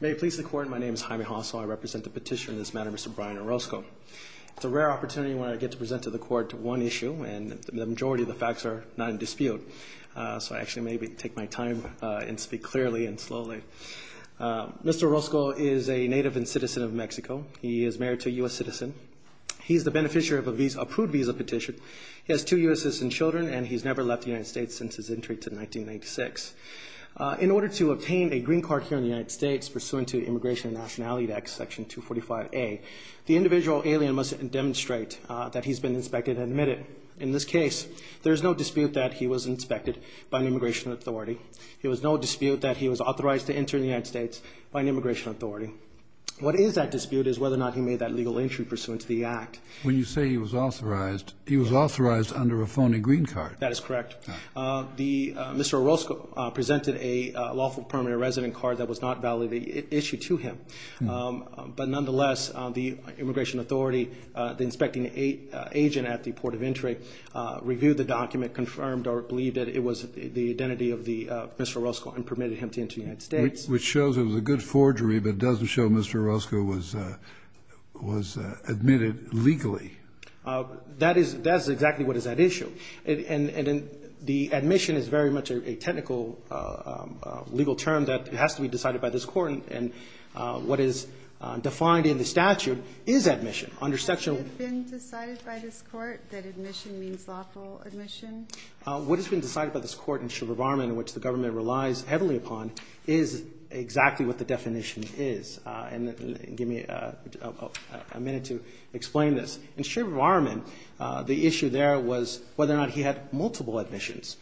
May it please the Court, my name is Jaime Hosso. I represent the petitioner in this matter, Mr. Brian Orozco. It's a rare opportunity when I get to present to the Court one issue, and the majority of the facts are not in dispute. So I actually may take my time and speak clearly and slowly. Mr. Orozco is a native and citizen of Mexico. He is married to a U.S. citizen. He is the beneficiary of an approved visa petition. He has two U.S. citizen children, and he's never left the United States since his entry to 1986. In order to obtain a green card here in the United States pursuant to the Immigration and Nationality Act, Section 245A, the individual alien must demonstrate that he's been inspected and admitted. In this case, there is no dispute that he was inspected by an immigration authority. There was no dispute that he was authorized to enter the United States by an immigration authority. What is at dispute is whether or not he made that legal entry pursuant to the Act. When you say he was authorized, he was authorized under a phony green card. That is correct. Mr. Orozco presented a lawful permanent resident card that was not valid, an issue to him. But nonetheless, the immigration authority, the inspecting agent at the port of entry, reviewed the document, confirmed or believed that it was the identity of Mr. Orozco and permitted him to enter the United States. Which shows it was a good forgery, but doesn't show Mr. Orozco was admitted legally. That is exactly what is at issue. And the admission is very much a technical legal term that has to be decided by this court. And what is defined in the statute is admission under Section ---- Has it been decided by this court that admission means lawful admission? What has been decided by this court in Shilberbarman, which the government relies heavily upon, is exactly what the definition is. And give me a minute to explain this. In Shilberbarman, the issue there was whether or not he had multiple admissions.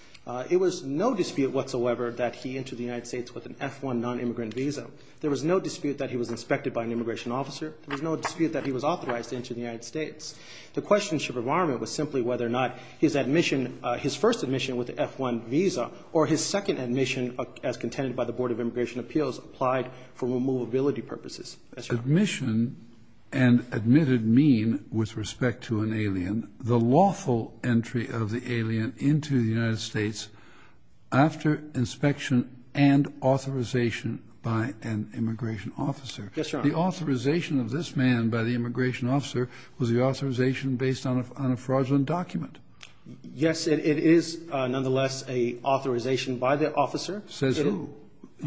It was no dispute whatsoever that he entered the United States with an F-1 nonimmigrant visa. There was no dispute that he was inspected by an immigration officer. There was no dispute that he was authorized to enter the United States. The question in Shilberbarman was simply whether or not his admission, his first admission with the F-1 visa, or his second admission as contended by the Board of Immigration Appeals applied for removability purposes. Yes, Your Honor. Admission and admitted mean, with respect to an alien, the lawful entry of the alien into the United States after inspection and authorization by an immigration officer. Yes, Your Honor. The authorization of this man by the immigration officer was the authorization based on a fraudulent document. Yes, it is nonetheless an authorization by the officer. You've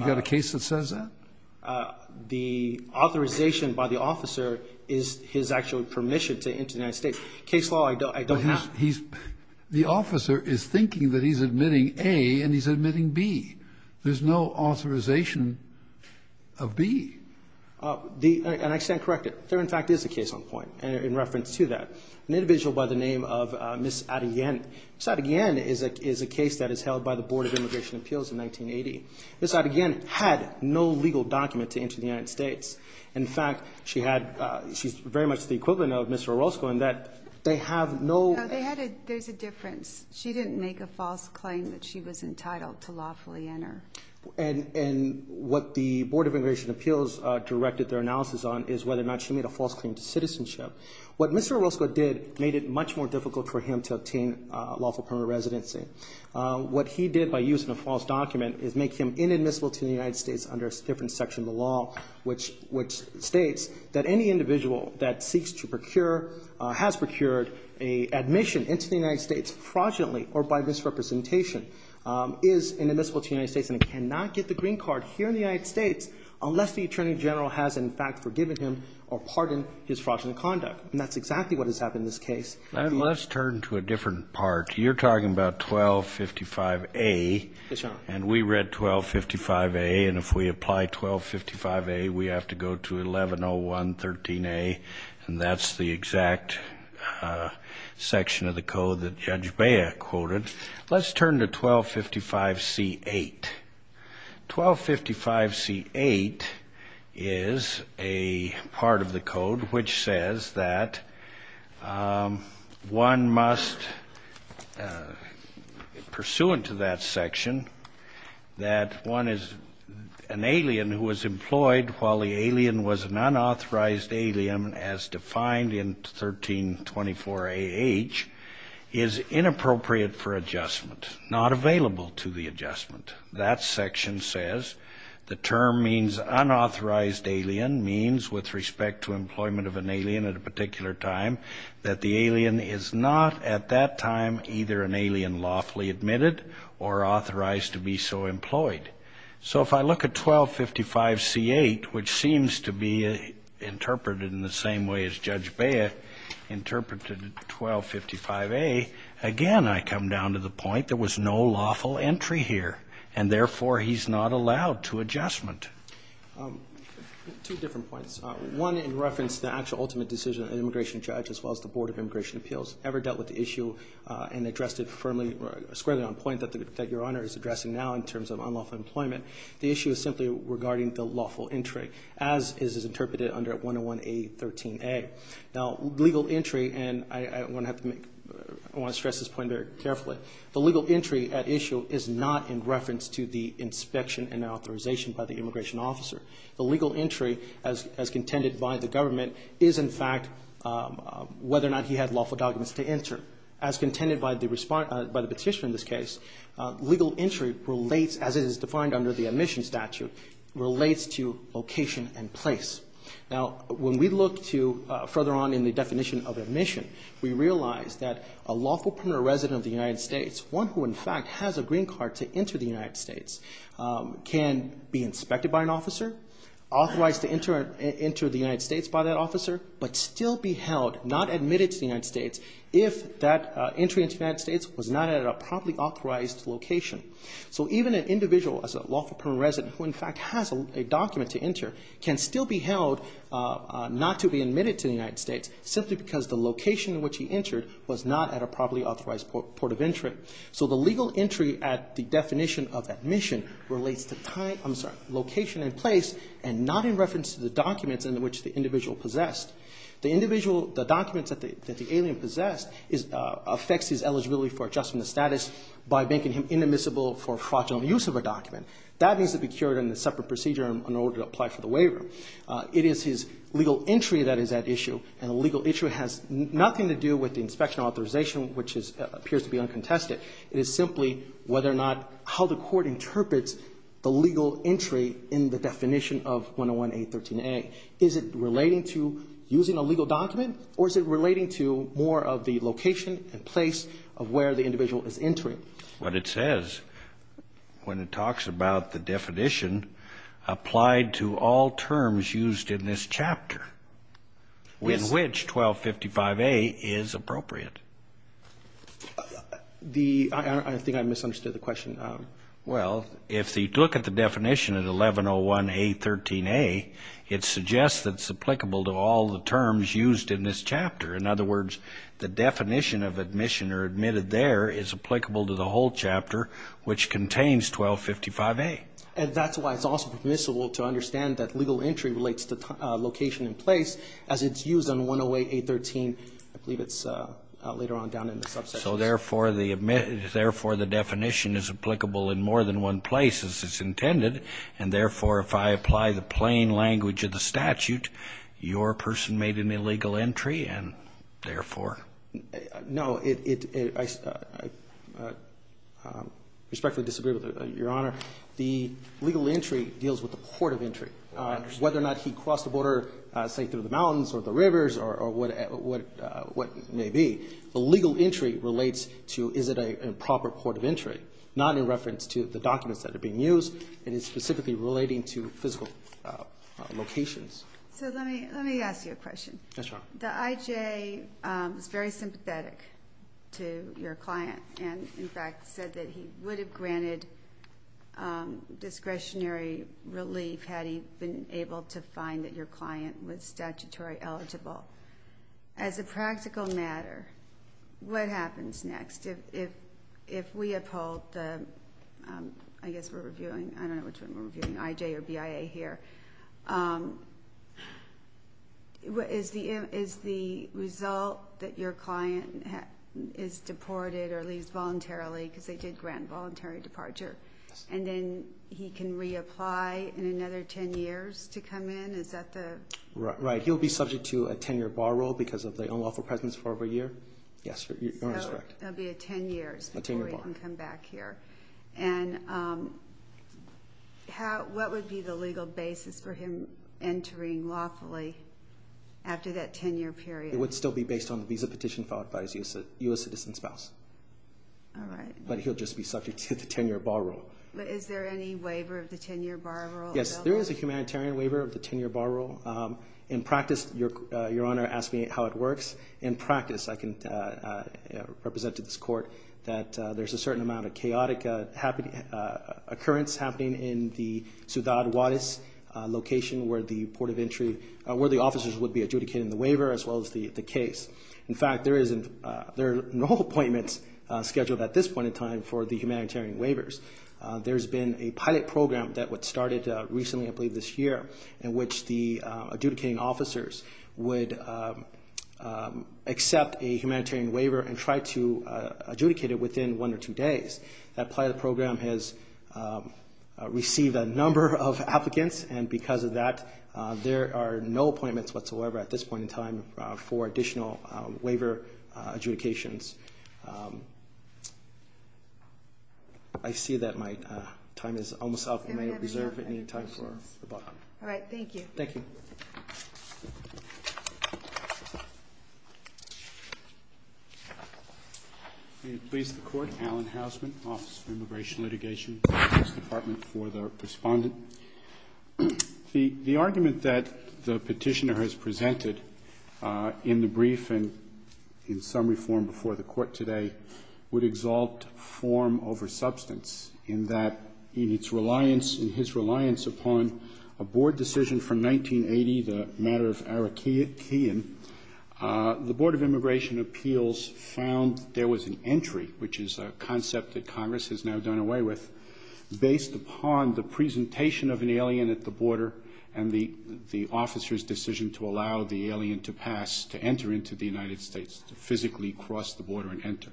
got a case that says that? The authorization by the officer is his actual permission to enter the United States. Case law, I don't have. The officer is thinking that he's admitting A and he's admitting B. There's no authorization of B. And I stand corrected. There, in fact, is a case on point in reference to that. An individual by the name of Ms. Adegian. Ms. Adegian is a case that is held by the Board of Immigration Appeals in 1980. Ms. Adegian had no legal document to enter the United States. In fact, she's very much the equivalent of Mr. Orozco in that they have no ---- No, there's a difference. She didn't make a false claim that she was entitled to lawfully enter. And what the Board of Immigration Appeals directed their analysis on is whether or not she made a false claim to citizenship. What Mr. Orozco did made it much more difficult for him to obtain lawful permanent residency. What he did by using a false document is make him inadmissible to the United States under a different section of the law, which states that any individual that seeks to procure, has procured an admission into the United States fraudulently or by misrepresentation, is inadmissible to the United States and cannot get the green card here in the United States unless the Attorney General has, in fact, forgiven him or pardoned his fraudulent conduct. And that's exactly what has happened in this case. Let's turn to a different part. You're talking about 1255A. Yes, Your Honor. And we read 1255A. And if we apply 1255A, we have to go to 110113A. And that's the exact section of the code that Judge Bea quoted. Let's turn to 1255C-8. 1255C-8 is a part of the code which says that one must, pursuant to that section, that one is an alien who was employed while the alien was an unauthorized alien, as defined in 1324AH, is inappropriate for adjustment, not available to the adjustment. That section says the term means unauthorized alien means, with respect to employment of an alien at a particular time, that the alien is not at that time either an alien lawfully admitted or authorized to be so employed. So if I look at 1255C-8, which seems to be interpreted in the same way as Judge Bea interpreted 1255A, again, I come down to the point there was no lawful entry here, and therefore he's not allowed to adjustment. Two different points. One, in reference to the actual ultimate decision, an immigration judge, as well as the Board of Immigration Appeals, ever dealt with the issue and addressed it firmly, squarely on point, that Your Honor is addressing now in terms of unlawful employment. The issue is simply regarding the lawful entry, as is interpreted under 101A13A. Now, legal entry, and I want to stress this point very carefully, the legal entry at issue is not in reference to the inspection and authorization by the immigration officer. The legal entry, as contended by the government, is in fact whether or not he had lawful documents to enter. As contended by the petitioner in this case, legal entry relates, as it is defined under the admission statute, relates to location and place. Now, when we look to further on in the definition of admission, we realize that a lawful permanent resident of the United States, one who in fact has a green card to enter the United States, can be inspected by an officer, authorized to enter the United States by that officer, but still be held, not admitted to the United States, if that entry into the United States was not at a properly authorized location. So even an individual as a lawful permanent resident, who in fact has a document to enter, can still be held not to be admitted to the United States simply because the location in which he entered was not at a properly authorized port of entry. So the legal entry at the definition of admission relates to time, I'm sorry, location and place, and not in reference to the documents in which the individual possessed. The documents that the alien possessed affects his eligibility for adjustment of status by making him inadmissible for fraudulent use of a document. That needs to be cured in a separate procedure in order to apply for the waiver. It is his legal entry that is at issue, and the legal issue has nothing to do with the inspection authorization, which appears to be uncontested. It is simply whether or not how the court interprets the legal entry in the definition of 101-813-A. Is it relating to using a legal document, or is it relating to more of the location and place of where the individual is entering? What it says when it talks about the definition applied to all terms used in this chapter in which 1255-A is appropriate. The — I think I misunderstood the question. Well, if you look at the definition of 1101-813-A, it suggests that it's applicable to all the terms used in this chapter. In other words, the definition of admission or admitted there is applicable to the whole chapter, which contains 1255-A. And that's why it's also permissible to understand that legal entry relates to location and place, as it's used on 108-813. I believe it's later on down in the subsection. So therefore, the definition is applicable in more than one place, as is intended, and therefore, if I apply the plain language of the statute, your person made an illegal entry, and therefore? No. I respectfully disagree with it, Your Honor. The legal entry deals with the port of entry, whether or not he crossed the border, say, through the mountains or the rivers or what may be. The legal entry relates to is it a proper port of entry, not in reference to the documents that are being used, and it's specifically relating to physical locations. So let me ask you a question. Yes, Your Honor. The I.J. is very sympathetic to your client and, in fact, said that he would have granted discretionary relief had he been able to find that your client was statutory eligible. As a practical matter, what happens next? If we uphold the, I guess we're reviewing, I don't know which one we're reviewing, I.J. or BIA here, is the result that your client is deported or leaves voluntarily because they did grant voluntary departure, and then he can reapply in another 10 years to come in? Is that the? Right. He'll be subject to a 10-year bar rule because of the unlawful presence for over a year. Yes, Your Honor is correct. A 10-year bar. And what would be the legal basis for him entering lawfully after that 10-year period? It would still be based on the visa petition filed by his U.S. citizen spouse. All right. But he'll just be subject to the 10-year bar rule. But is there any waiver of the 10-year bar rule? Yes, there is a humanitarian waiver of the 10-year bar rule. In practice, Your Honor asked me how it works. In practice, I can represent to this court that there's a certain amount of chaotic occurrence happening in the Ciudad Juarez location where the officers would be adjudicating the waiver as well as the case. In fact, there are no appointments scheduled at this point in time for the humanitarian waivers. There's been a pilot program that started recently, I believe this year, in which the adjudicating officers would accept a humanitarian waiver and try to adjudicate it within one or two days. That pilot program has received a number of applicants, and because of that, there are no appointments whatsoever at this point in time for additional waiver adjudications. I see that my time is almost up. May I reserve any time for rebuttal? All right. Thank you. Thank you. May it please the Court. Alan Hausman, Office of Immigration Litigation, Justice Department, for the Respondent. The argument that the Petitioner has presented in the brief and in summary form before the Court today would exalt form over substance in that in its reliance, in his reliance upon a board decision from 1980, the matter of Arakein, the Board of Immigration Appeals found there was an entry, which is a concept that Congress has now done away with, based upon the presentation of an alien at the border and the officer's decision to allow the alien to pass, to enter into the United States, to physically cross the border and enter.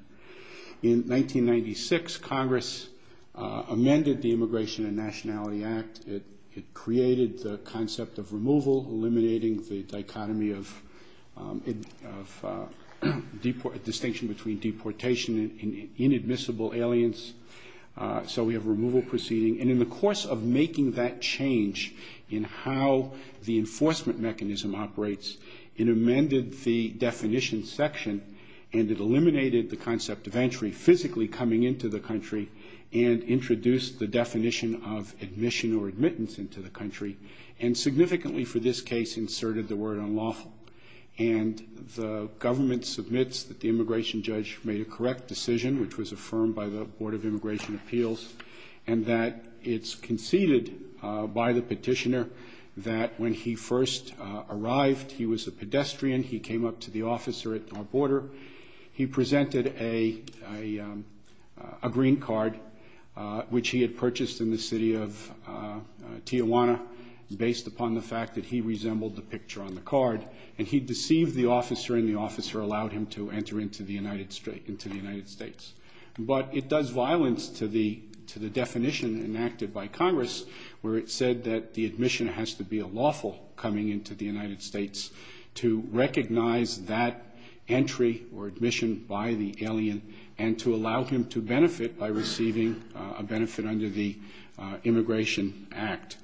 In 1996, Congress amended the Immigration and Nationality Act. It created the concept of removal, eliminating the dichotomy of distinction between deportation and inadmissible aliens, so we have removal proceeding. And in the course of making that change in how the enforcement mechanism operates, it amended the definition section and it eliminated the concept of entry physically coming into the country and introduced the definition of admission or admittance into the country and significantly for this case inserted the word unlawful. And the government submits that the immigration judge made a correct decision, which was affirmed by the Board of Immigration Appeals, and that it's conceded by the Petitioner that when he first arrived, he was a pedestrian, he came up to the officer at our border, he presented a green card, which he had purchased in the city of Tijuana, based upon the fact that he resembled the picture on the card, and he deceived the officer and the officer allowed him to enter into the United States. But it does violence to the definition enacted by Congress, where it said that the admission has to be unlawful coming into the United States to recognize that entry or admission by the alien and to allow him to benefit by receiving a benefit under the Immigration Act.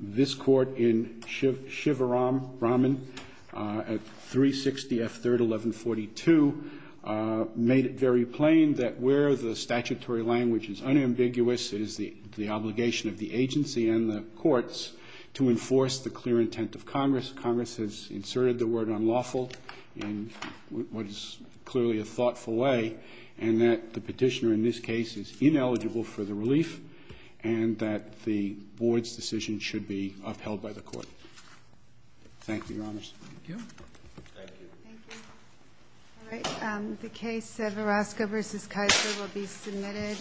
This court in Shivaram, Brahman, at 360 F. 3rd, 1142, made it very plain that where the statutory language is unambiguous, it is the obligation of the agency and the courts to enforce the clear intent of Congress. Congress has inserted the word unlawful in what is clearly a thoughtful way, and that the Petitioner in this case is ineligible for the relief and that the Board's decision should be upheld by the court. Thank you, Your Honors. Thank you. Thank you. Thank you. The case of Orozco v. Kaiser will be submitted.